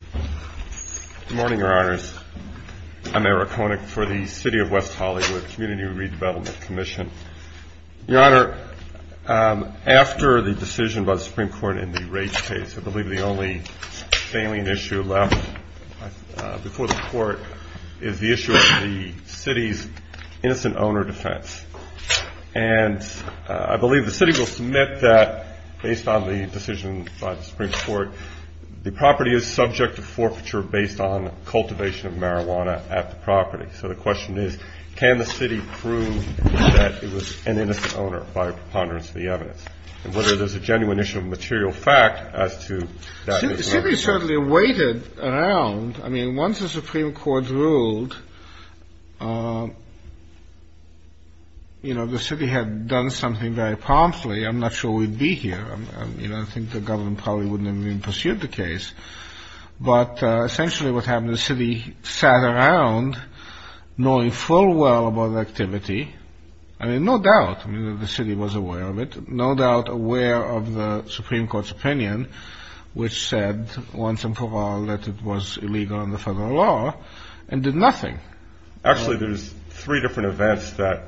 Good morning, your honors. I'm Eric Honek for the city of West Hollywood, Community Redevelopment Commission. Your honor, um, after the decision about the Supreme Court in the rates case, I believe the only salient issue left before the court is the issue of the City's innocent owner defense. And I believe the City will submit that based on the decision by the District of Forfeiture based on cultivation of marijuana at the property. So the question is, can the City prove that it was an innocent owner by a preponderance of the evidence? And whether there's a genuine issue of material fact as to that. The City certainly waited around. I mean, once the Supreme Court ruled, um, you know, the City had done something very promptly. I'm not sure we'd be here. I mean, I think the government probably wouldn't have even pursued the case. But essentially what happened, the City sat around knowing full well about the activity. I mean, no doubt the City was aware of it. No doubt aware of the Supreme Court's opinion, which said once and for all that it was illegal under federal law and did nothing. Actually, there's three different events that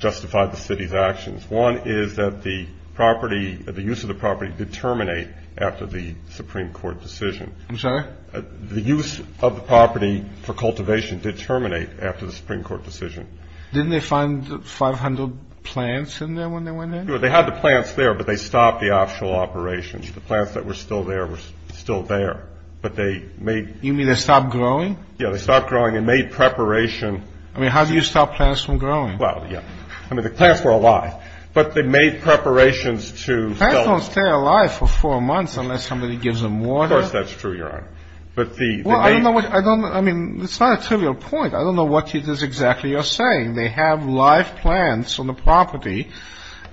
justified the City's actions. One is that the property, the use of the property did terminate after the Supreme Court decision. I'm sorry? The use of the property for cultivation did terminate after the Supreme Court decision. Didn't they find 500 plants in there when they went in? They had the plants there, but they stopped the actual operations. The plants that were still there were still there, but they made... I mean, how do you stop plants from growing? Well, yeah. I mean, the plants were alive, but they made preparations to... Plants don't stay alive for four months unless somebody gives them water. Of course that's true, Your Honor. But the... Well, I don't know what... I mean, it's not a trivial point. I don't know what it is exactly you're saying. They have live plants on the property,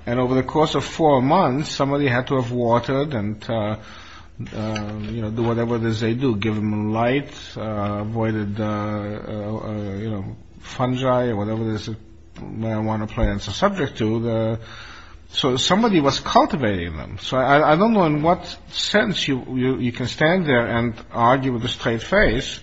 and over the course of four months, somebody had to have watered and, you know, do whatever it is they do, give them light, avoided, you know, fungi or whatever it is marijuana plants are subject to. So somebody was cultivating them. So I don't know in what sense you can stand there and argue with a straight face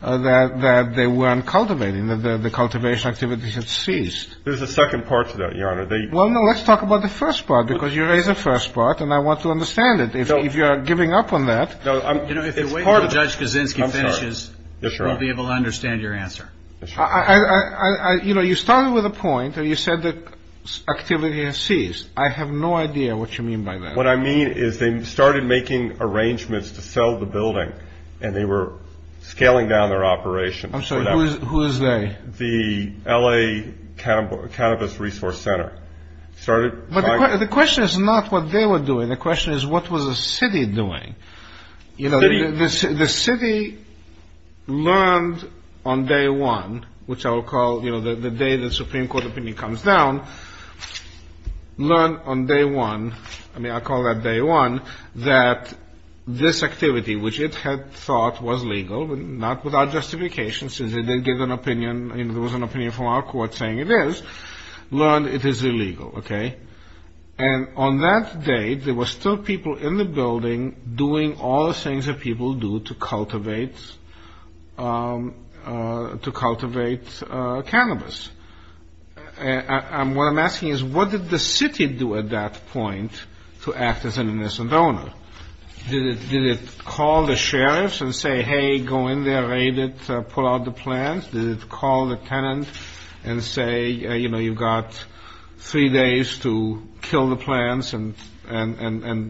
that they weren't cultivating, that the cultivation activities had ceased. There's a second part to that, Your Honor. Well, no, let's talk about the first part, because you raised the first part, and I want to understand it. If you're giving up on that... You know, if you wait until Judge Kaczynski finishes, we'll be able to understand your answer. You know, you started with a point where you said the activity had ceased. I have no idea what you mean by that. What I mean is they started making arrangements to sell the building, and they were scaling down their operations. I'm sorry, who is they? The L.A. Cannabis Resource Center started... But the question is not what they were doing. The question is what was the city doing. You know, the city learned on day one, which I will call, you know, the day the Supreme Court opinion comes down, learned on day one, I mean, I call that day one, that this activity, which it had thought was legal, but not without justification since they didn't give an opinion. I mean, there was an opinion from our court saying it is, learned it is illegal, okay? And on that day, there were still people in the building doing all the things that people do to cultivate cannabis. And what I'm asking is what did the city do at that point to act as an innocent owner? Did it call the sheriffs and say, hey, go in there, raid it, pull out the plants? Did it call the tenant and say, you know, you've got three days to kill the plants and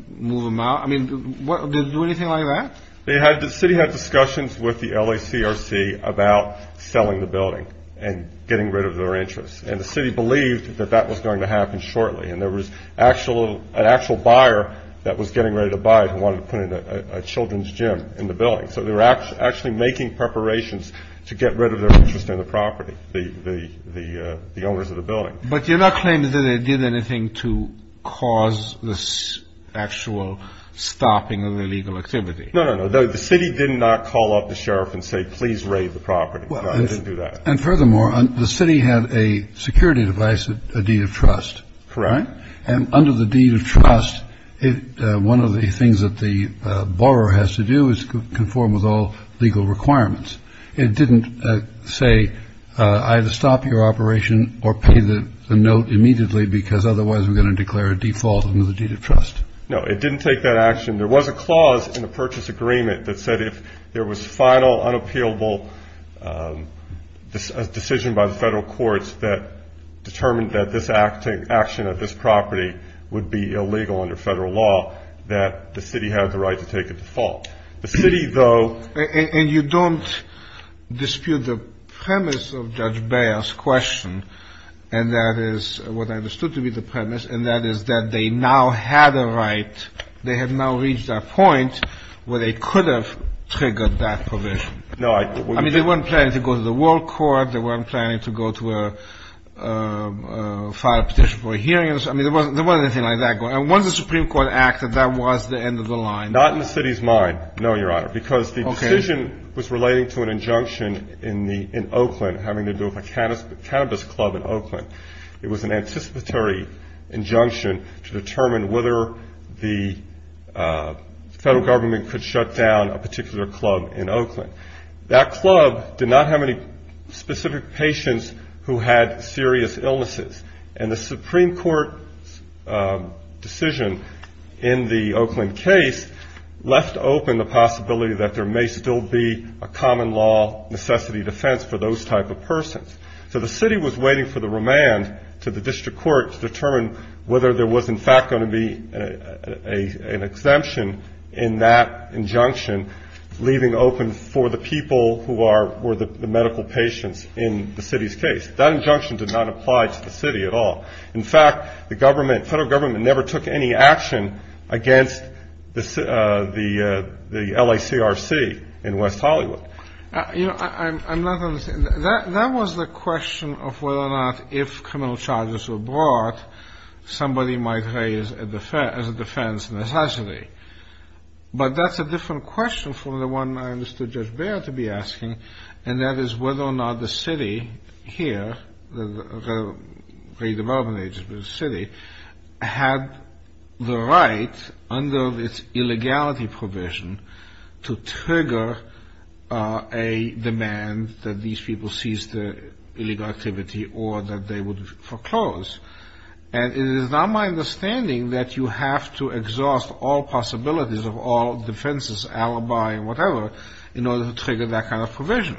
move them out? I mean, did it do anything like that? The city had discussions with the LACRC about selling the building and getting rid of their interests. And the city believed that that was going to happen shortly. And there was an actual buyer that was getting ready to buy it who wanted to put a children's gym in the building. So they were actually making preparations to get rid of their interest in the property, the owners of the building. But you're not claiming that it did anything to cause the actual stopping of the illegal activity. No, no, no. The city did not call up the sheriff and say, please raid the property. It didn't do that. And furthermore, the city had a security device, a deed of trust. Correct. And under the deed of trust, one of the things that the borrower has to do is conform with all legal requirements. It didn't say either stop your operation or pay the note immediately, because otherwise we're going to declare a default under the deed of trust. No, it didn't take that action. There was a clause in the purchase agreement that said if there was final unappealable decision by the federal courts that determined that this action of this property would be illegal under federal law, that the city had the right to take a default. The city, though — And you don't dispute the premise of Judge Beyer's question, and that is what I understood to be the premise, and that is that they now had a right. They had now reached a point where they could have triggered that provision. No, I — I mean, they weren't planning to go to the World Court. They weren't planning to go to file a petition for a hearing. I mean, there wasn't anything like that going on. Once the Supreme Court acted, that was the end of the line. Not in the city's mind, no, Your Honor, because the decision was relating to an injunction in Oakland having to do with a cannabis club in Oakland. It was an anticipatory injunction to determine whether the federal government could shut down a particular club in Oakland. That club did not have any specific patients who had serious illnesses, and the Supreme Court's decision in the Oakland case left open the possibility that there may still be a common law necessity defense for those type of persons. So the city was waiting for the remand to the district court to determine whether there was, in fact, going to be an exemption in that injunction, leaving open for the people who were the medical patients in the city's case. That injunction did not apply to the city at all. In fact, the government, federal government, never took any action against the LACRC in West Hollywood. I'm not understanding. That was the question of whether or not if criminal charges were brought, somebody might raise as a defense necessity. But that's a different question from the one I understood Judge Baird to be asking, and that is whether or not the city here, the redevelopment agency of the city, had the right under its illegality provision to trigger a demand that these people cease their illegal activity or that they would foreclose. And it is not my understanding that you have to exhaust all possibilities of all defenses, alibi, whatever, in order to trigger that kind of provision.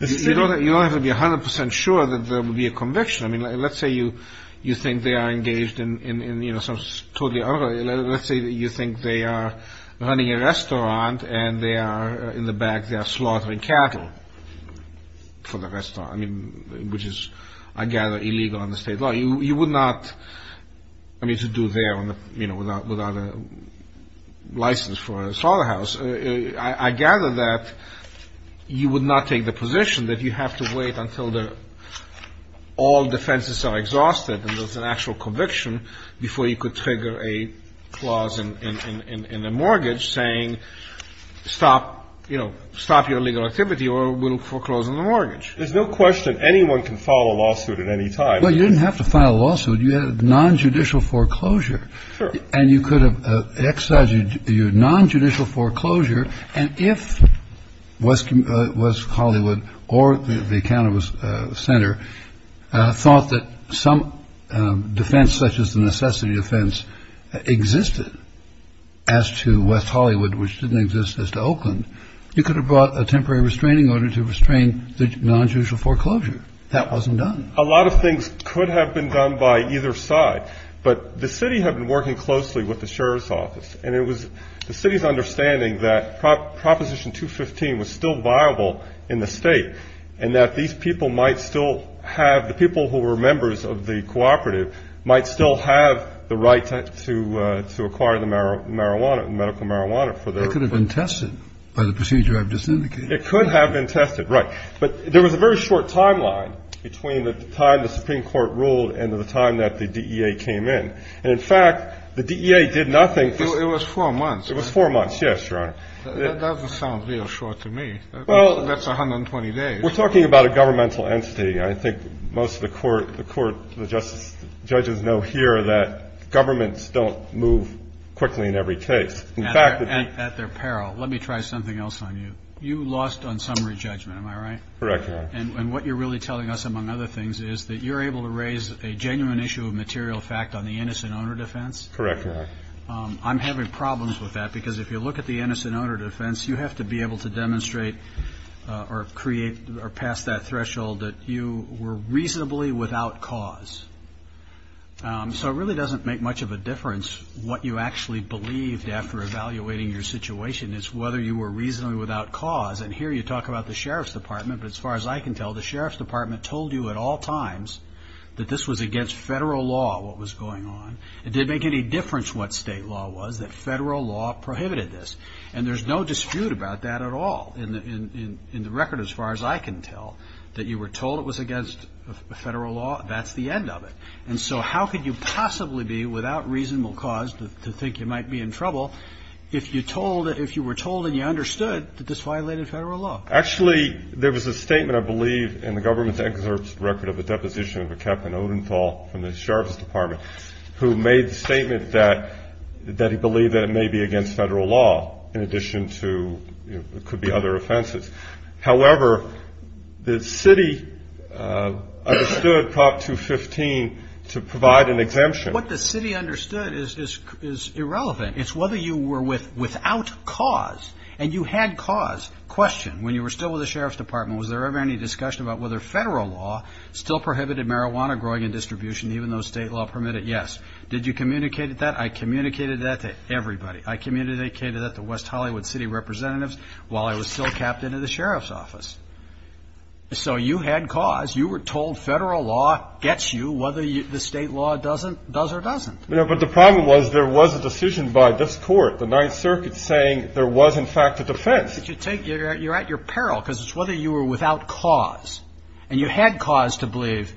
You don't have to be 100 percent sure that there will be a conviction. I mean, let's say you think they are engaged in, you know, some totally other, let's say you think they are running a restaurant and they are, in the back, they are slaughtering cattle for the restaurant, I mean, which is, I gather, illegal under state law. You would not, I mean, to do there, you know, without a license for a slaughterhouse. I gather that you would not take the position that you have to wait until all defenses are exhausted and there's an actual conviction before you could trigger a clause in a mortgage saying stop, you know, stop your illegal activity or we'll foreclose on the mortgage. There's no question anyone can file a lawsuit at any time. Well, you didn't have to file a lawsuit. You had nonjudicial foreclosure. Sure. And you could have excised your nonjudicial foreclosure. And if West Hollywood or the cannabis center thought that some defense such as the necessity defense existed as to West Hollywood, which didn't exist as to Oakland, you could have brought a temporary restraining order to restrain the nonjudicial foreclosure. That wasn't done. A lot of things could have been done by either side. But the city had been working closely with the sheriff's office, and it was the city's understanding that Proposition 215 was still viable in the state and that these people might still have, the people who were members of the cooperative, might still have the right to acquire the marijuana, the medical marijuana for their. It could have been tested by the procedure I've just indicated. It could have been tested, right. But there was a very short timeline between the time the Supreme Court ruled and the time that the DEA came in. And, in fact, the DEA did nothing. It was four months. It was four months, yes, Your Honor. That doesn't sound real short to me. Well. That's 120 days. We're talking about a governmental entity. I think most of the court, the court, the judges know here that governments don't move quickly in every case. At their peril. Let me try something else on you. You lost on summary judgment, am I right? Correct, Your Honor. And what you're really telling us, among other things, is that you're able to raise a genuine issue of material fact on the innocent owner defense? Correct, Your Honor. I'm having problems with that because if you look at the innocent owner defense, you have to be able to demonstrate or create or pass that threshold that you were reasonably without cause. So it really doesn't make much of a difference what you actually believed after evaluating your situation. It's whether you were reasonably without cause. And here you talk about the Sheriff's Department, but as far as I can tell, the Sheriff's Department told you at all times that this was against federal law, what was going on. It didn't make any difference what state law was, that federal law prohibited this. And there's no dispute about that at all in the record as far as I can tell. That you were told it was against federal law, that's the end of it. And so how could you possibly be without reasonable cause to think you might be in trouble if you were told and you understood that this violated federal law? Actually, there was a statement, I believe, in the government's excerpt record of a deposition of a Captain Odenthal from the Sheriff's Department who made the statement that he believed that it may be against federal law, in addition to it could be other offenses. However, the city understood Prop 215 to provide an exemption. What the city understood is irrelevant. It's whether you were without cause. And you had cause. Question, when you were still with the Sheriff's Department, was there ever any discussion about whether federal law still prohibited marijuana growing and distribution, even though state law permitted it? Yes. Did you communicate that? I communicated that to everybody. I communicated that to West Hollywood city representatives while I was still Captain of the Sheriff's Office. So you had cause. You were told federal law gets you whether the state law does or doesn't. But the problem was there was a decision by this Court, the Ninth Circuit, saying there was, in fact, a defense. But you're at your peril because it's whether you were without cause. And you had cause to believe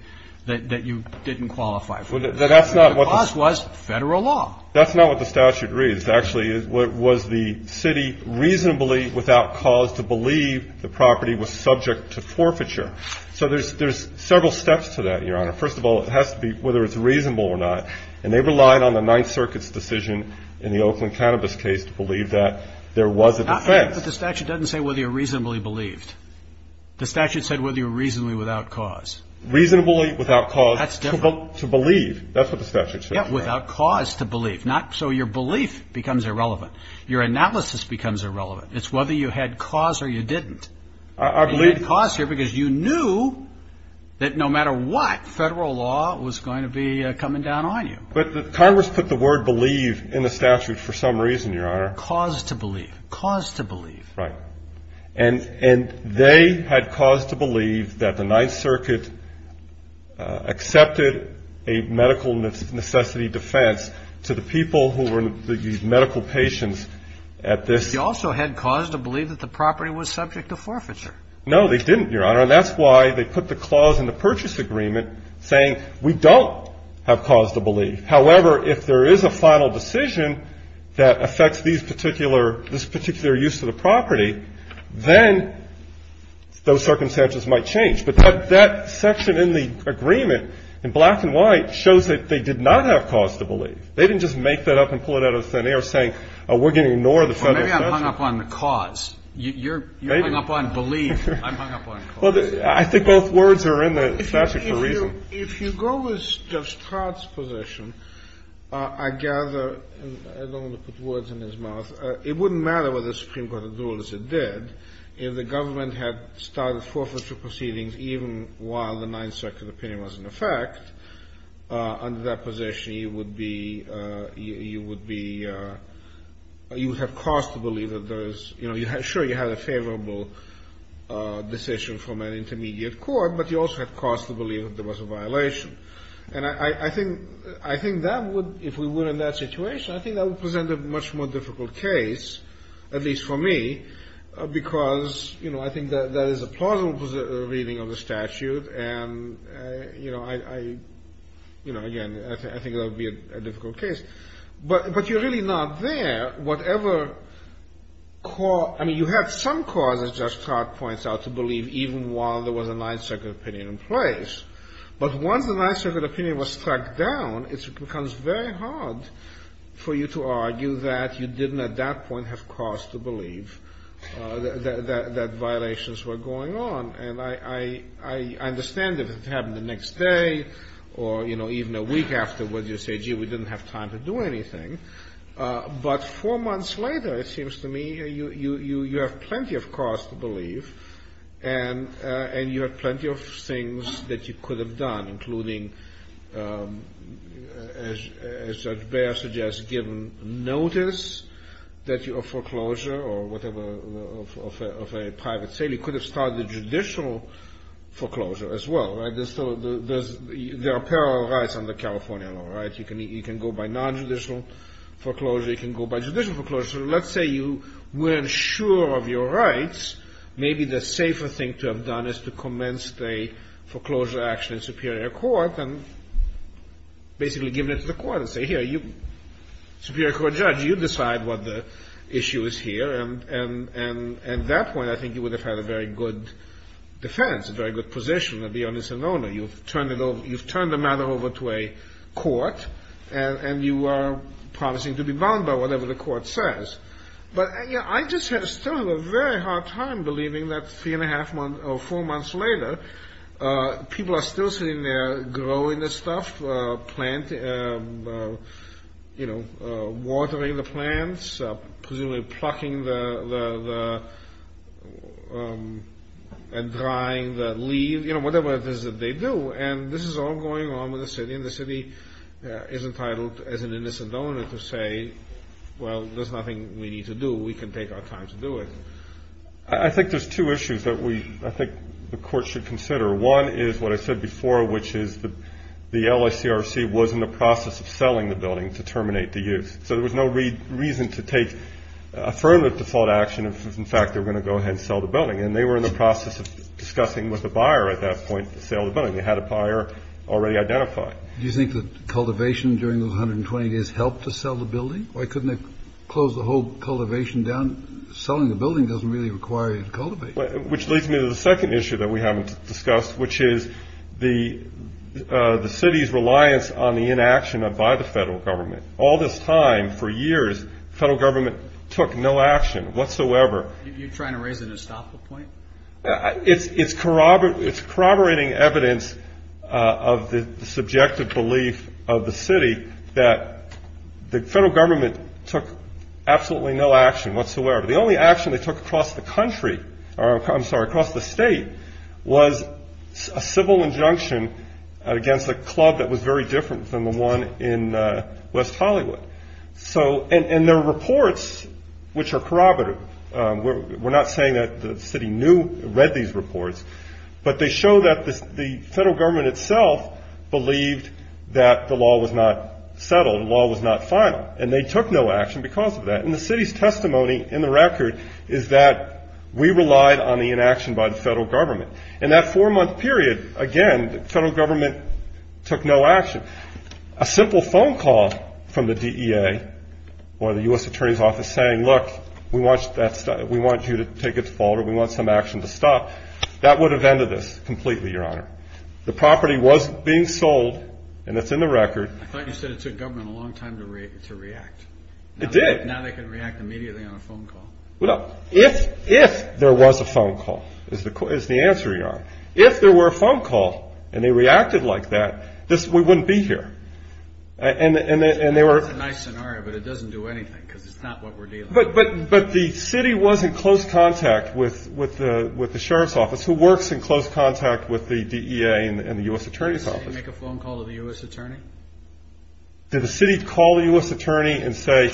that you didn't qualify for it. The cause was federal law. That's not what the statute reads. Actually, it was the city reasonably without cause to believe the property was subject to forfeiture. So there's several steps to that, Your Honor. First of all, it has to be whether it's reasonable or not. And they relied on the Ninth Circuit's decision in the Oakland cannabis case to believe that there was a defense. But the statute doesn't say whether you're reasonably believed. The statute said whether you're reasonably without cause. Reasonably without cause to believe. That's what the statute says. Without cause to believe. So your belief becomes irrelevant. Your analysis becomes irrelevant. It's whether you had cause or you didn't. And you had cause here because you knew that no matter what, federal law was going to be coming down on you. But Congress put the word believe in the statute for some reason, Your Honor. Cause to believe. Cause to believe. Right. And they had cause to believe that the Ninth Circuit accepted a medical necessity defense to the people who were these medical patients at this. But they also had cause to believe that the property was subject to forfeiture. No, they didn't, Your Honor. And that's why they put the clause in the purchase agreement saying we don't have cause to believe. However, if there is a final decision that affects these particular, this particular use of the property, then those circumstances might change. But that section in the agreement in black and white shows that they did not have cause to believe. They didn't just make that up and pull it out of thin air saying we're going to ignore the federal statute. Maybe I'm hung up on the cause. Maybe. You're hung up on belief. I'm hung up on cause. Well, I think both words are in the statute for a reason. If you go with Judge Todd's position, I gather, and I don't want to put words in his mouth, it wouldn't matter whether the Supreme Court would do what it did. If the government had started forfeiture proceedings even while the Ninth Circuit opinion was in effect, under that position you would be, you would be, you would have cause to believe that there is, you know, sure you had a favorable decision from an intermediate court, but you also had cause to believe that there was a violation. And I think that would, if we were in that situation, I think that would present a much more difficult case, at least for me, because, you know, I think that is a plausible reading of the statute. And, you know, I, you know, again, I think that would be a difficult case. But you're really not there. Whatever cause, I mean, you had some cause, as Judge Todd points out, to believe even while there was a Ninth Circuit opinion in place. But once the Ninth Circuit opinion was struck down, it becomes very hard for you to argue that you didn't at that point have cause to believe that violations were going on. And I understand if it happened the next day or, you know, even a week afterwards, you say, gee, we didn't have time to do anything. But four months later, it seems to me, you have plenty of cause to believe, and you have plenty of things that you could have done, including, as Judge Baer suggests, given notice that your foreclosure or whatever of a private sale, you could have started a judicial foreclosure as well, right? There are parallel rights under California law, right? You can go by nonjudicial foreclosure. You can go by judicial foreclosure. So let's say you weren't sure of your rights. Maybe the safer thing to have done is to commence a foreclosure action in Superior Court and basically give it to the court and say, here, you, Superior Court judge, you decide what the issue is here. And at that point, I think you would have had a very good defense, a very good position of the onus and owner. You've turned the matter over to a court, and you are promising to be bound by whatever the court says. But, you know, I just still have a very hard time believing that three-and-a-half months or four months later, people are still sitting there growing the stuff, plant, you know, watering the plants, presumably plucking the and drying the leaves, you know, whatever it is that they do. And this is all going on with the city, and the city is entitled, as an innocent owner, to say, well, there's nothing we need to do. We can take our time to do it. I think there's two issues that I think the court should consider. One is what I said before, which is the LACRC was in the process of selling the building to terminate the use. So there was no reason to take affirmative default action if, in fact, they were going to go ahead and sell the building. And they were in the process of discussing with the buyer at that point to sell the building. They had a buyer already identified. Do you think that cultivation during those 120 days helped to sell the building? Why couldn't they close the whole cultivation down? Selling the building doesn't really require you to cultivate. Which leads me to the second issue that we haven't discussed, which is the city's reliance on the inaction by the federal government. All this time, for years, the federal government took no action whatsoever. You're trying to raise an estoppel point? It's corroborating evidence of the subjective belief of the city that the federal government took absolutely no action whatsoever. The only action they took across the country, or I'm sorry, across the state, was a civil injunction against a club that was very different than the one in West Hollywood. And there are reports which are corroborative. We're not saying that the city read these reports, but they show that the federal government itself believed that the law was not settled, the law was not final. And they took no action because of that. And the city's testimony in the record is that we relied on the inaction by the federal government. In that four-month period, again, the federal government took no action. A simple phone call from the DEA or the U.S. Attorney's Office saying, look, we want you to take a fall or we want some action to stop, that would have ended this completely, Your Honor. The property was being sold, and it's in the record. I thought you said it took government a long time to react. It did. Now they can react immediately on a phone call. Well, if there was a phone call, is the answer, Your Honor. If there were a phone call and they reacted like that, we wouldn't be here. That's a nice scenario, but it doesn't do anything because it's not what we're dealing with. But the city was in close contact with the sheriff's office, who works in close contact with the DEA and the U.S. Attorney's Office. Did the city make a phone call to the U.S. Attorney? Did the city call the U.S. Attorney and say,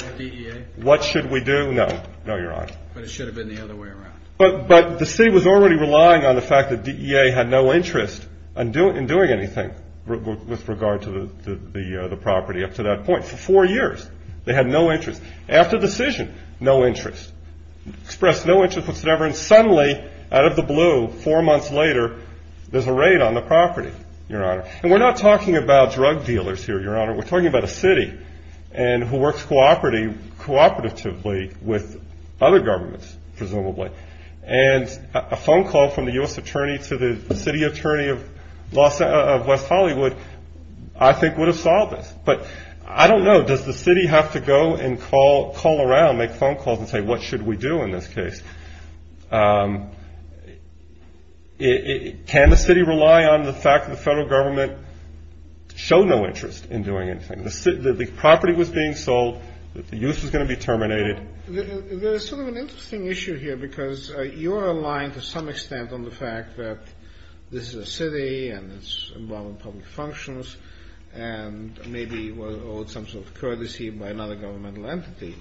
what should we do? No. No, Your Honor. But it should have been the other way around. But the city was already relying on the fact that DEA had no interest in doing anything with regard to the property up to that point. For four years, they had no interest. After the decision, no interest. Expressed no interest whatsoever, and suddenly, out of the blue, four months later, there's a raid on the property, Your Honor. And we're not talking about drug dealers here, Your Honor. We're talking about a city who works cooperatively with other governments, presumably. And a phone call from the U.S. Attorney to the city attorney of West Hollywood, I think, would have solved this. But I don't know. Does the city have to go and call around, make phone calls and say, what should we do in this case? Can the city rely on the fact that the federal government showed no interest in doing anything? The property was being sold. The use was going to be terminated. There's sort of an interesting issue here because you are aligned to some extent on the fact that this is a city and it's involved in public functions and maybe was owed some sort of courtesy by another governmental entity.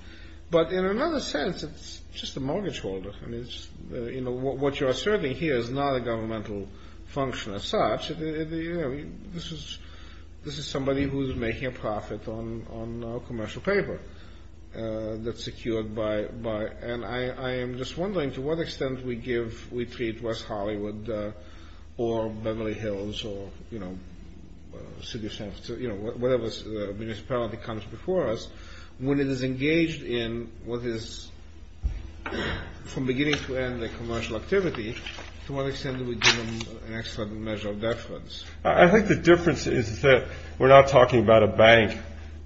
But in another sense, it's just a mortgage holder. I mean, it's, you know, what you're asserting here is not a governmental function as such. This is somebody who's making a profit on a commercial paper that's secured by, and I am just wondering to what extent we give, we treat West Hollywood or Beverly Hills or, you know, City of San Francisco, you know, whatever municipality comes before us, when it is engaged in what is, from beginning to end, a commercial activity, to what extent do we give them an excellent measure of deference? I think the difference is that we're not talking about a bank,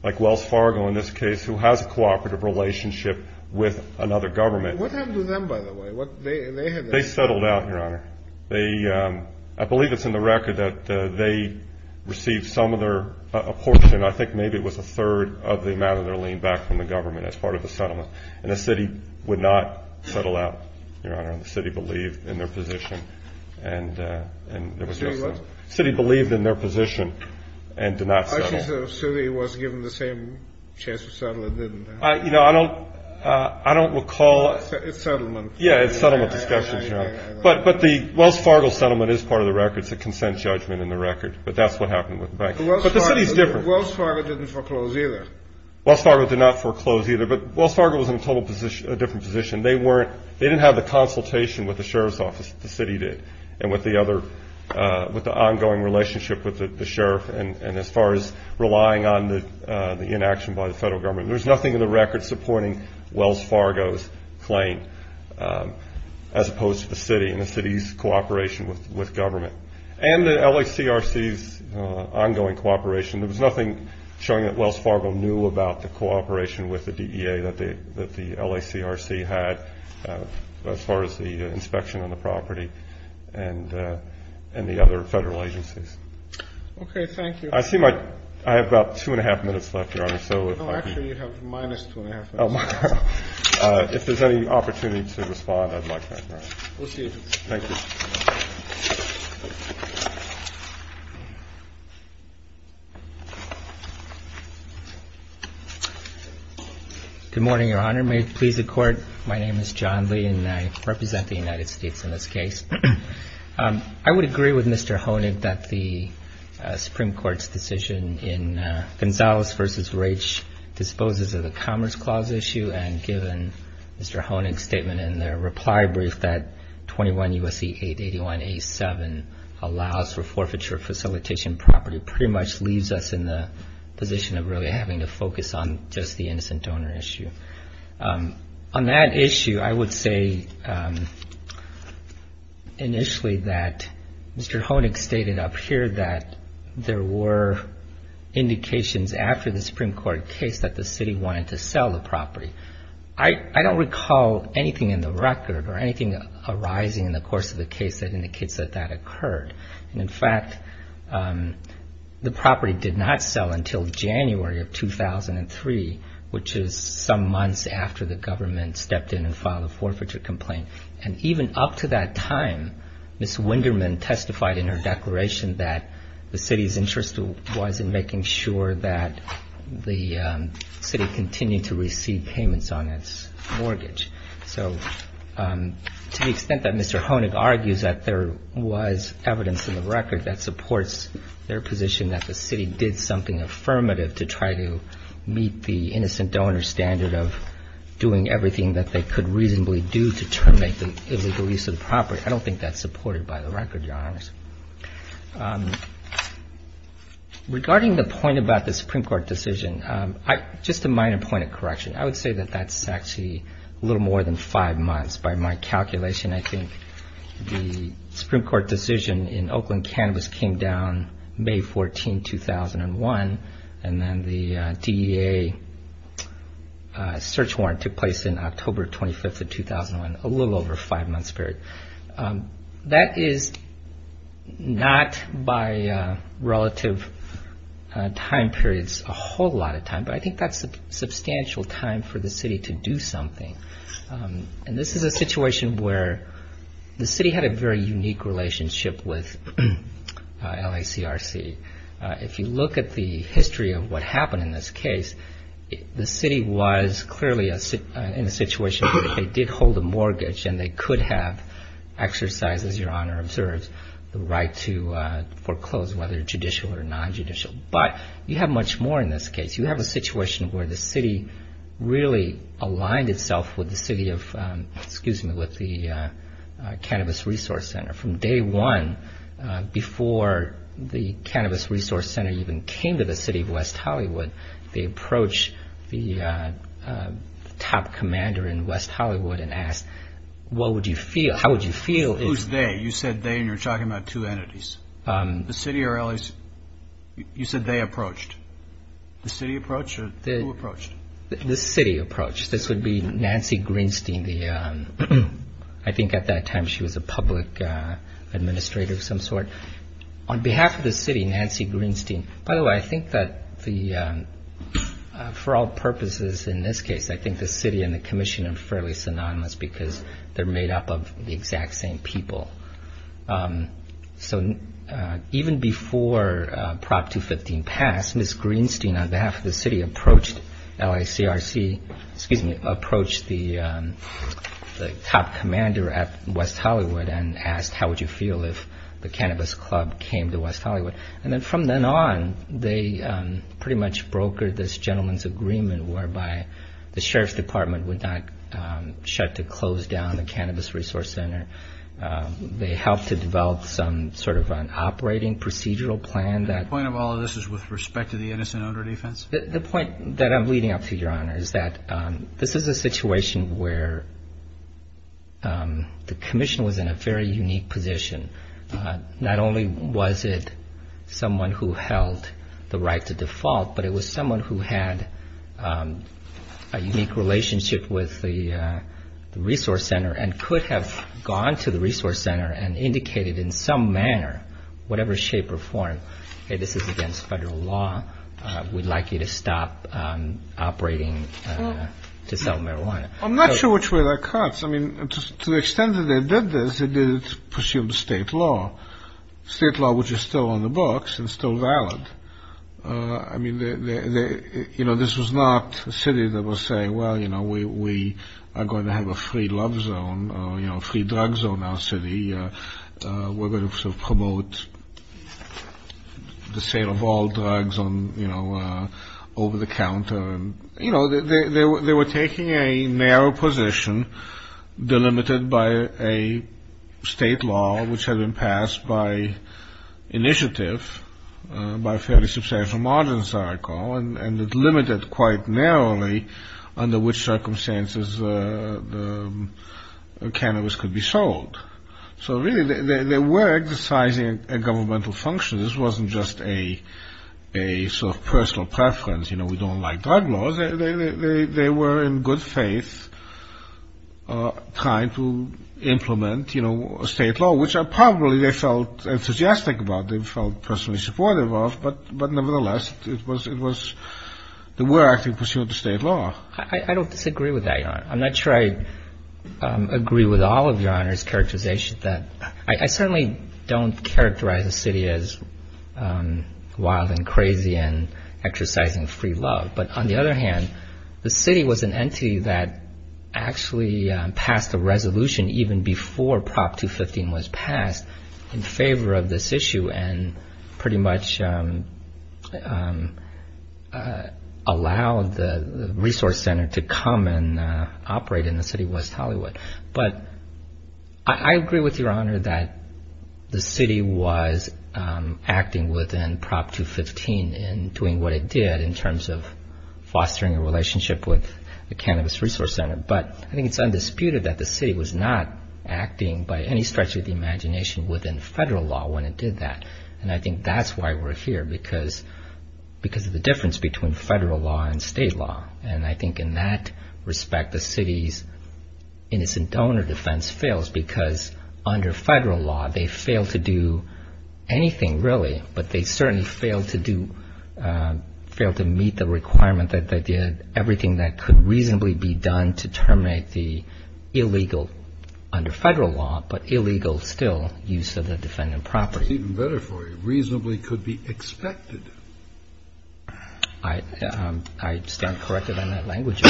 like Wells Fargo in this case, who has a cooperative relationship with another government. What happened to them, by the way? They settled out, Your Honor. I believe it's in the record that they received some of their, a portion, I think maybe it was a third of the amount of their lien back from the government as part of the settlement. And the city would not settle out, Your Honor. The city believed in their position and there was no settlement. The city what? The city believed in their position and did not settle. I think the city was given the same chance to settle and didn't. You know, I don't recall. It's settlement. Yeah, it's settlement discussions, Your Honor. But the Wells Fargo settlement is part of the record. It's a consent judgment in the record. But that's what happened with the bank. But the city's different. Wells Fargo didn't foreclose either. Wells Fargo did not foreclose either. But Wells Fargo was in a different position. They didn't have the consultation with the sheriff's office that the city did and with the ongoing relationship with the sheriff. And as far as relying on the inaction by the federal government, there's nothing in the record supporting Wells Fargo's claim as opposed to the city and the city's cooperation with government. And the LACRC's ongoing cooperation. There was nothing showing that Wells Fargo knew about the cooperation with the DEA that the LACRC had as far as the inspection on the property and the other federal agencies. Okay, thank you. I have about two and a half minutes left, Your Honor. Actually, you have minus two and a half minutes. If there's any opportunity to respond, I'd like that, Your Honor. We'll see you. Thank you. Good morning, Your Honor. May it please the Court, my name is John Lee, and I represent the United States in this case. I would agree with Mr. Honig that the Supreme Court's decision in Gonzalez v. Raich disposes of the Commerce Clause issue and given Mr. Honig's statement in their reply brief that 21 U.S.C. 881-A7 allows for forfeiture facilitation property pretty much leaves us in the position of really having to focus on just the innocent donor issue. On that issue, I would say initially that Mr. Honig stated up here that there were indications after the Supreme Court case that the city wanted to sell the property. I don't recall anything in the record or anything arising in the course of the case that indicates that that occurred. And in fact, the property did not sell until January of 2003, which is some months after the government stepped in and filed a forfeiture complaint. And even up to that time, Ms. Winderman testified in her declaration that the city's interest was in making sure that the city continued to receive payments on its mortgage. So to the extent that Mr. Honig argues that there was evidence in the record that supports their position that the city did something affirmative to try to meet the innocent donor standard of doing everything that they could reasonably do to terminate the illegal use of the property, I don't think that's supported by the record, Your Honors. Regarding the point about the Supreme Court decision, just a minor point of correction. I would say that that's actually a little more than five months by my calculation. I think the Supreme Court decision in Oakland Cannabis came down May 14, 2001, and then the DEA search warrant took place in October 25th of 2001, a little over a five-month period. That is not by relative time periods a whole lot of time, but I think that's a substantial time for the city to do something. And this is a situation where the city had a very unique relationship with LACRC. If you look at the history of what happened in this case, the city was clearly in a situation where they did hold a mortgage and they could have exercised, as Your Honor observes, the right to foreclose whether judicial or non-judicial. But you have much more in this case. You have a situation where the city really aligned itself with the Cannabis Resource Center. From day one, before the Cannabis Resource Center even came to the city of West Hollywood, they approached the top commander in West Hollywood and asked, what would you feel, how would you feel if- Who's they? You said they and you're talking about two entities. The city or LACRC? You said they approached. The city approached or who approached? The city approached. This would be Nancy Greenstein, I think at that time she was a public administrator of some sort. On behalf of the city, Nancy Greenstein- For all purposes in this case, I think the city and the commission are fairly synonymous because they're made up of the exact same people. So even before Prop 215 passed, Ms. Greenstein on behalf of the city approached LACRC, excuse me, approached the top commander at West Hollywood and asked, how would you feel if the Cannabis Club came to West Hollywood? And then from then on, they pretty much brokered this gentleman's agreement whereby the sheriff's department would not shut to close down the Cannabis Resource Center. They helped to develop some sort of an operating procedural plan that- The point of all of this is with respect to the innocent odor defense? The point that I'm leading up to, Your Honor, is that this is a situation where the commission was in a very unique position. Not only was it someone who held the right to default, but it was someone who had a unique relationship with the resource center and could have gone to the resource center and indicated in some manner, whatever shape or form, hey, this is against federal law, we'd like you to stop operating to sell marijuana. I'm not sure which way that cuts. I mean, to the extent that they did this, they did it pursuant to state law, state law which is still on the books and still valid. I mean, you know, this was not a city that was saying, well, you know, we are going to have a free love zone, you know, a free drug zone in our city. We're going to sort of promote the sale of all drugs on, you know, over the counter. You know, they were taking a narrow position delimited by a state law which had been passed by initiative by a fairly substantial margin, as I recall, and it limited quite narrowly under which circumstances the cannabis could be sold. So, really, they were exercising a governmental function. This wasn't just a sort of personal preference. You know, we don't like drug laws. They were in good faith trying to implement, you know, state law, which probably they felt enthusiastic about, they felt personally supportive of. But, nevertheless, it was the way they pursued the state law. I don't disagree with that, Your Honor. I'm not sure I agree with all of Your Honor's characterization. I certainly don't characterize the city as wild and crazy and exercising free love. But, on the other hand, the city was an entity that actually passed a resolution even before Prop 215 was passed in favor of this issue and pretty much allowed the resource center to come and operate in the city of West Hollywood. But I agree with Your Honor that the city was acting within Prop 215 and doing what it did in terms of fostering a relationship with the Cannabis Resource Center. But I think it's undisputed that the city was not acting by any stretch of the imagination within federal law when it did that. And I think that's why we're here, because of the difference between federal law and state law. And I think, in that respect, the city's innocent donor defense fails because, under federal law, they fail to do anything, really. But they certainly fail to meet the requirement that they did everything that could reasonably be done to terminate the illegal, under federal law, but illegal still, use of the defendant property. That's even better for you. Reasonably could be expected. I stand corrected on that language.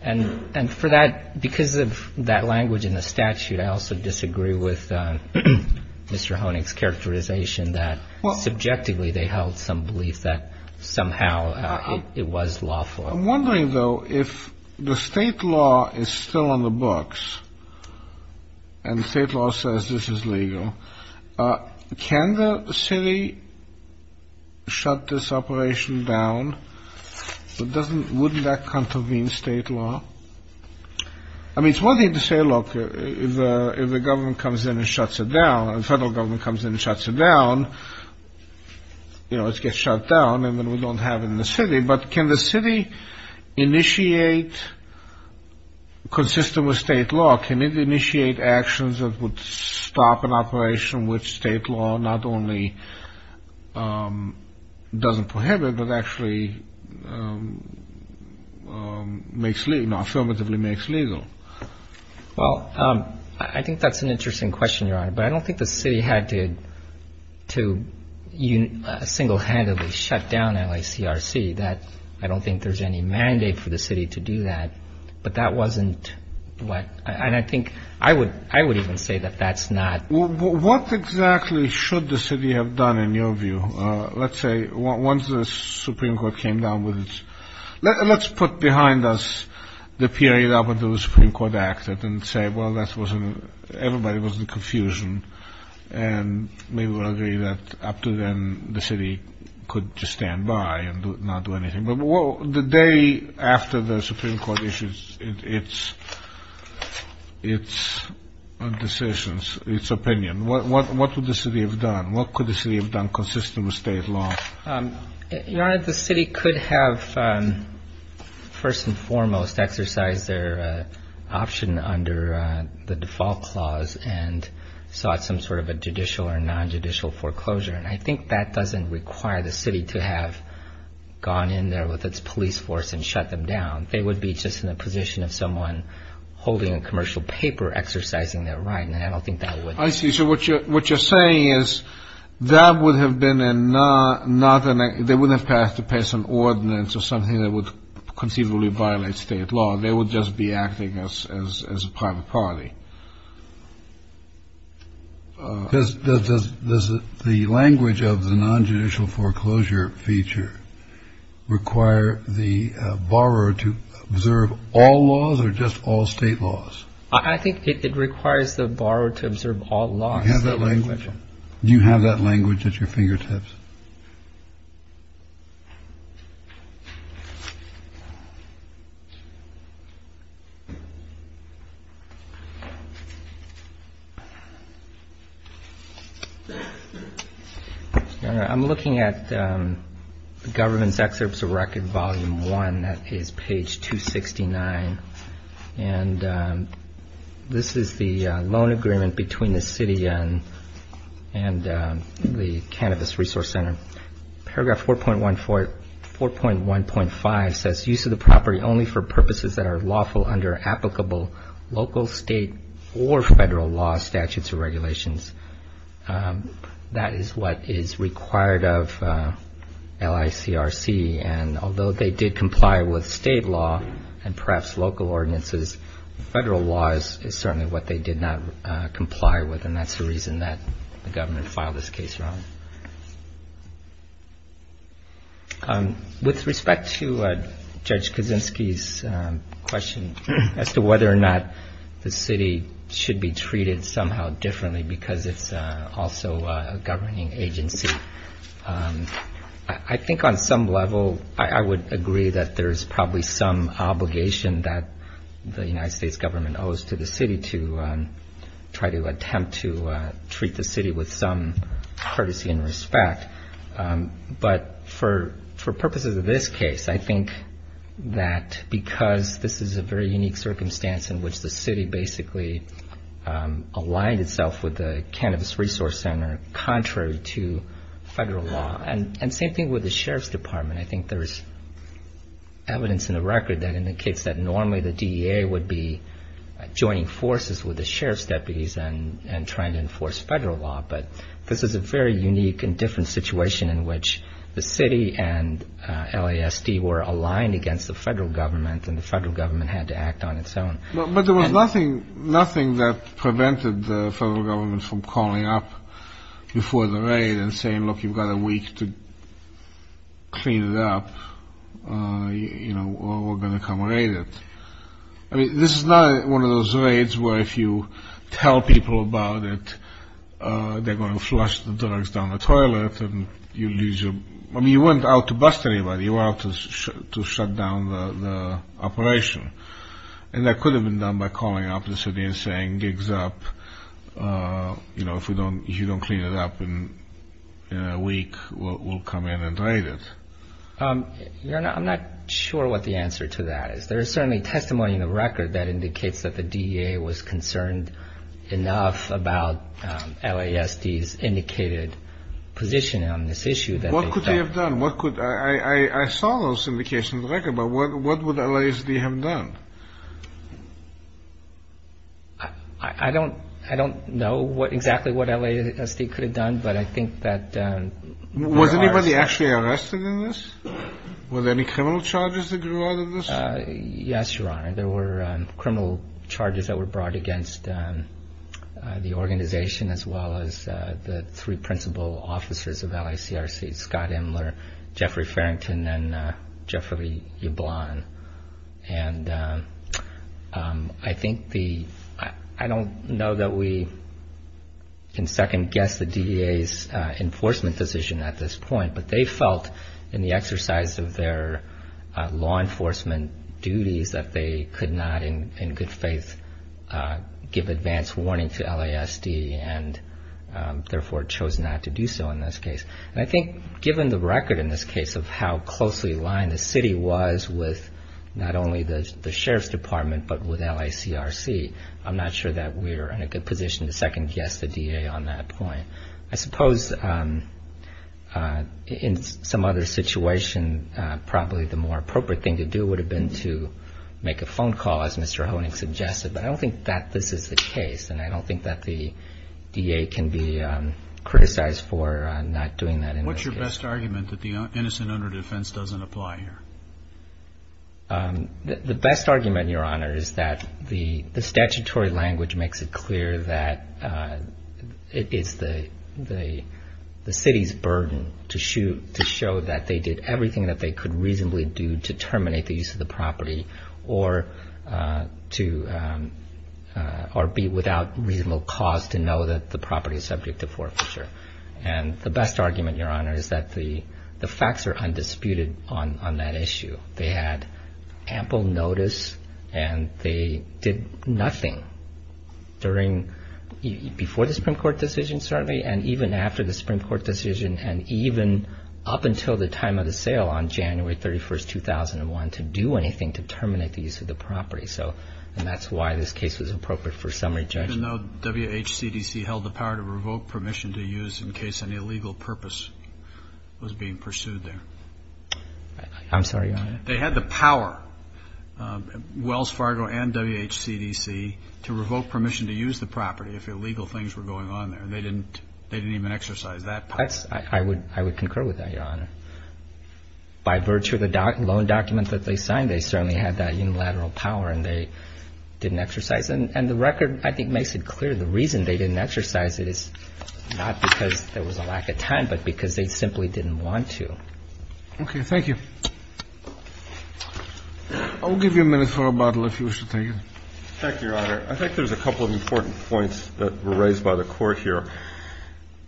And for that, because of that language in the statute, I also disagree with Mr. Honig's characterization that, subjectively, they held some belief that somehow it was lawful. I'm wondering, though, if the state law is still on the books and the state law says this is legal, can the city shut this operation down? Wouldn't that contravene state law? I mean, it's one thing to say, look, if the government comes in and shuts it down, and the federal government comes in and shuts it down, you know, it gets shut down, and then we don't have it in the city. But can the city initiate, consistent with state law, can it initiate actions that would stop an operation which state law not only doesn't prohibit, but actually affirmatively makes legal? Well, I think that's an interesting question, Your Honor, but I don't think the city had to single-handedly shut down LACRC. I don't think there's any mandate for the city to do that. But that wasn't what – and I think I would even say that that's not – Well, what exactly should the city have done, in your view? Let's say once the Supreme Court came down with its – let's put behind us the period up until the Supreme Court acted and say, well, that wasn't – everybody was in confusion, and maybe we'll agree that up to then the city could just stand by and not do anything. But the day after the Supreme Court issued its decisions, its opinion, what would the city have done? What could the city have done, consistent with state law? Your Honor, the city could have, first and foremost, exercised their option under the default clause and sought some sort of a judicial or non-judicial foreclosure. And I think that doesn't require the city to have gone in there with its police force and shut them down. They would be just in a position of someone holding a commercial paper exercising their right, and I don't think that would – I see. So what you're saying is that would have been not – they wouldn't have to pass an ordinance or something that would conceivably violate state law. They would just be acting as a private party. Does the language of the non-judicial foreclosure feature require the borrower to observe all laws or just all state laws? I think it requires the borrower to observe all laws. Do you have that language? Do you have that language at your fingertips? Your Honor, I'm looking at the government's excerpts of record volume one. That is page 269. And this is the loan agreement between the city and the Cannabis Resource Center. Paragraph 4.1.5 says, Use of the property only for purposes that are lawful under applicable local, state, or federal law, statutes, or regulations. That is what is required of LICRC. And although they did comply with state law and perhaps local ordinances, federal law is certainly what they did not comply with, and that's the reason that the government filed this case wrong. With respect to Judge Kaczynski's question as to whether or not the city should be treated somehow differently because it's also a governing agency, I think on some level I would agree that there is probably some obligation that the United States government owes to the city to try to attempt to treat the city with some courtesy and respect. But for purposes of this case, I think that because this is a very unique circumstance in which the city basically aligned itself with the Cannabis Resource Center contrary to federal law. And same thing with the Sheriff's Department. I think there is evidence in the record that indicates that normally the DEA would be joining forces with the Sheriff's deputies and trying to enforce federal law. But this is a very unique and different situation in which the city and LASD were aligned against the federal government and the federal government had to act on its own. But there was nothing that prevented the federal government from calling up before the raid and saying, look, you've got a week to clean it up or we're going to come raid it. This is not one of those raids where if you tell people about it, they're going to flush the drugs down the toilet. I mean, you weren't out to bust anybody. You were out to shut down the operation. And that could have been done by calling up the city and saying, gigs up, if you don't clean it up in a week, we'll come in and raid it. I'm not sure what the answer to that is. There is certainly testimony in the record that indicates that the DEA was concerned enough about LASD's indicated position on this issue. What could they have done? I saw those indications in the record. But what would LASD have done? I don't know exactly what LASD could have done, but I think that... Was anybody actually arrested in this? Were there any criminal charges that grew out of this? Yes, Your Honor. There were criminal charges that were brought against the organization as well as the three principal officers of LICRC, Scott Imler, Jeffrey Farrington, and Jeffrey Ublon. And I think the... I don't know that we can second guess the DEA's enforcement position at this point, but they felt in the exercise of their law enforcement duties that they could not in good faith give advance warning to LASD and therefore chose not to do so in this case. And I think given the record in this case of how closely aligned the city was with not only the Sheriff's Department but with LICRC, I'm not sure that we're in a good position to second guess the DEA on that point. I suppose in some other situation, probably the more appropriate thing to do would have been to make a phone call, as Mr. Honig suggested. But I don't think that this is the case, and I don't think that the DEA can be criticized for not doing that in this case. What's your best argument that the innocent under defense doesn't apply here? The best argument, Your Honor, is that the statutory language makes it clear that it is the city's burden to show that they did everything that they could reasonably do to terminate the use of the property or be without reasonable cause to know that the property is subject to forfeiture. And the best argument, Your Honor, is that the facts are undisputed on that issue. They had ample notice, and they did nothing during, before the Supreme Court decision, certainly, and even after the Supreme Court decision, and even up until the time of the sale on January 31, 2001, to do anything to terminate the use of the property. And that's why this case was appropriate for summary judgment. The question, though, WHCDC held the power to revoke permission to use in case an illegal purpose was being pursued there. I'm sorry, Your Honor. They had the power, Wells Fargo and WHCDC, to revoke permission to use the property if illegal things were going on there. They didn't even exercise that power. I would concur with that, Your Honor. By virtue of the loan documents that they signed, they certainly had that unilateral power, and they didn't exercise it. And the record, I think, makes it clear the reason they didn't exercise it is not because there was a lack of time, but because they simply didn't want to. Okay. Thank you. I'll give you a minute for rebuttal, if you wish to take it. Thank you, Your Honor. I think there's a couple of important points that were raised by the Court here.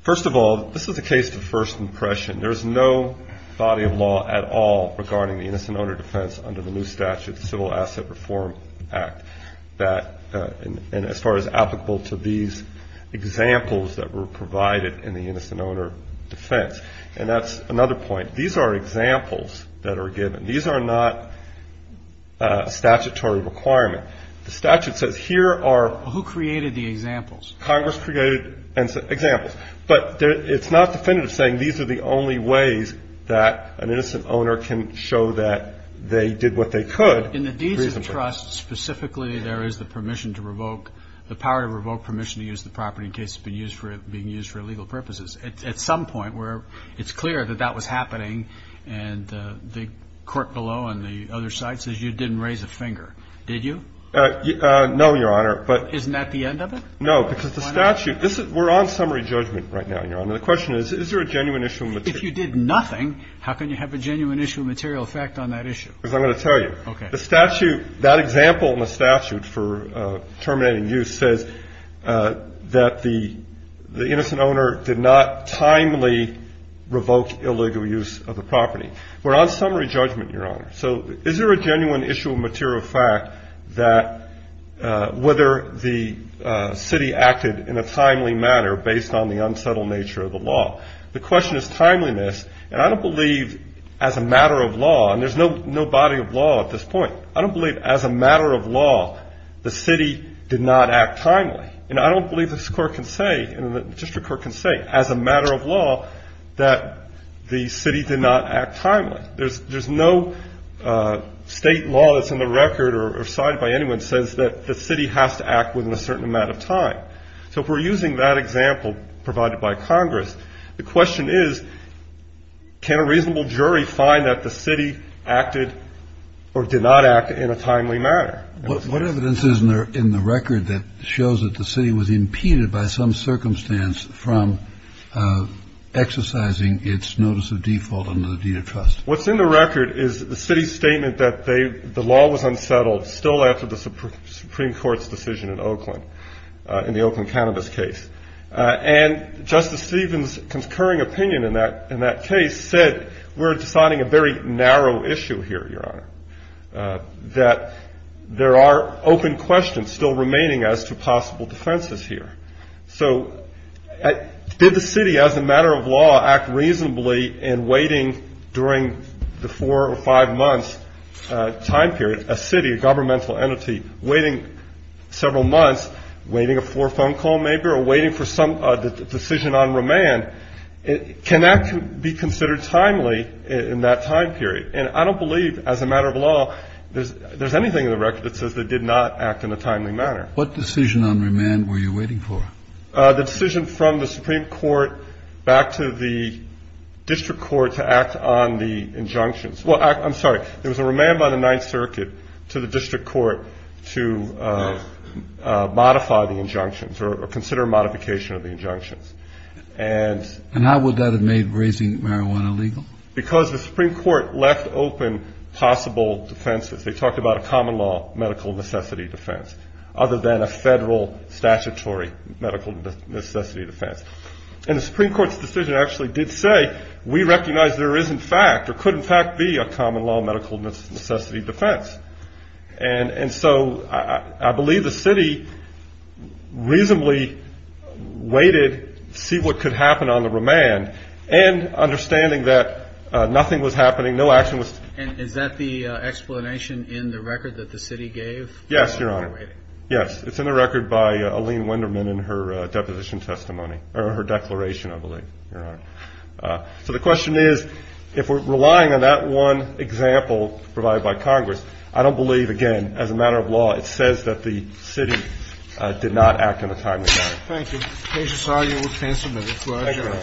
First of all, this is a case of first impression. There's no body of law at all regarding the innocent owner defense under the new statute, the Civil Asset Reform Act, and as far as applicable to these examples that were provided in the innocent owner defense. And that's another point. These are examples that are given. These are not statutory requirement. The statute says here are ---- Who created the examples? Congress created examples. But it's not definitive saying these are the only ways that an innocent owner can show that they did what they could. In the Deeds of Trust, specifically, there is the permission to revoke, the power to revoke permission to use the property in case it's being used for illegal purposes. At some point where it's clear that that was happening and the court below on the other side says you didn't raise a finger. Did you? No, Your Honor, but ---- Isn't that the end of it? No, because the statute ---- Why not? We're on summary judgment right now, Your Honor. The question is, is there a genuine issue of material ---- If you did nothing, how can you have a genuine issue of material effect on that issue? Because I'm going to tell you. Okay. The statute, that example in the statute for terminating use says that the innocent owner did not timely revoke illegal use of the property. We're on summary judgment, Your Honor. So is there a genuine issue of material fact that whether the city acted in a timely manner based on the unsettled nature of the law? The question is timeliness, and I don't believe as a matter of law, and there's no body of law at this point. I don't believe as a matter of law the city did not act timely, and I don't believe this court can say, and the district court can say as a matter of law that the city did not act timely. There's no state law that's in the record or signed by anyone that says that the city has to act within a certain amount of time. So if we're using that example provided by Congress, the question is can a reasonable jury find that the city acted or did not act in a timely manner? What evidence is in the record that shows that the city was impeded by some circumstance from exercising its notice of default under the deed of trust? What's in the record is the city's statement that the law was unsettled still after the Supreme Court's decision in Oakland. In the Oakland cannabis case. And Justice Stevens' concurring opinion in that case said we're deciding a very narrow issue here, Your Honor, that there are open questions still remaining as to possible defenses here. So did the city as a matter of law act reasonably in waiting during the four or five months time period, a city, a governmental entity, waiting several months, waiting a four-phone call, maybe, or waiting for some decision on remand, can that be considered timely in that time period? And I don't believe as a matter of law there's anything in the record that says they did not act in a timely manner. What decision on remand were you waiting for? The decision from the Supreme Court back to the district court to act on the injunctions. Well, I'm sorry, there was a remand by the Ninth Circuit to the district court to modify the injunctions or consider modification of the injunctions. And how would that have made raising marijuana legal? Because the Supreme Court left open possible defenses. They talked about a common law medical necessity defense other than a federal statutory medical necessity defense. And the Supreme Court's decision actually did say we recognize there is in fact or could in fact be a common law medical necessity defense. And so I believe the city reasonably waited to see what could happen on the remand, and understanding that nothing was happening, no action was taken. And is that the explanation in the record that the city gave? Yes, Your Honor. Yes, it's in the record by Aline Wenderman in her deposition testimony, or her declaration, I believe, Your Honor. So the question is, if we're relying on that one example provided by Congress, I don't believe, again, as a matter of law, it says that the city did not act in a timely manner. Thank you. The case is argued and canceled. Thank you, Your Honor.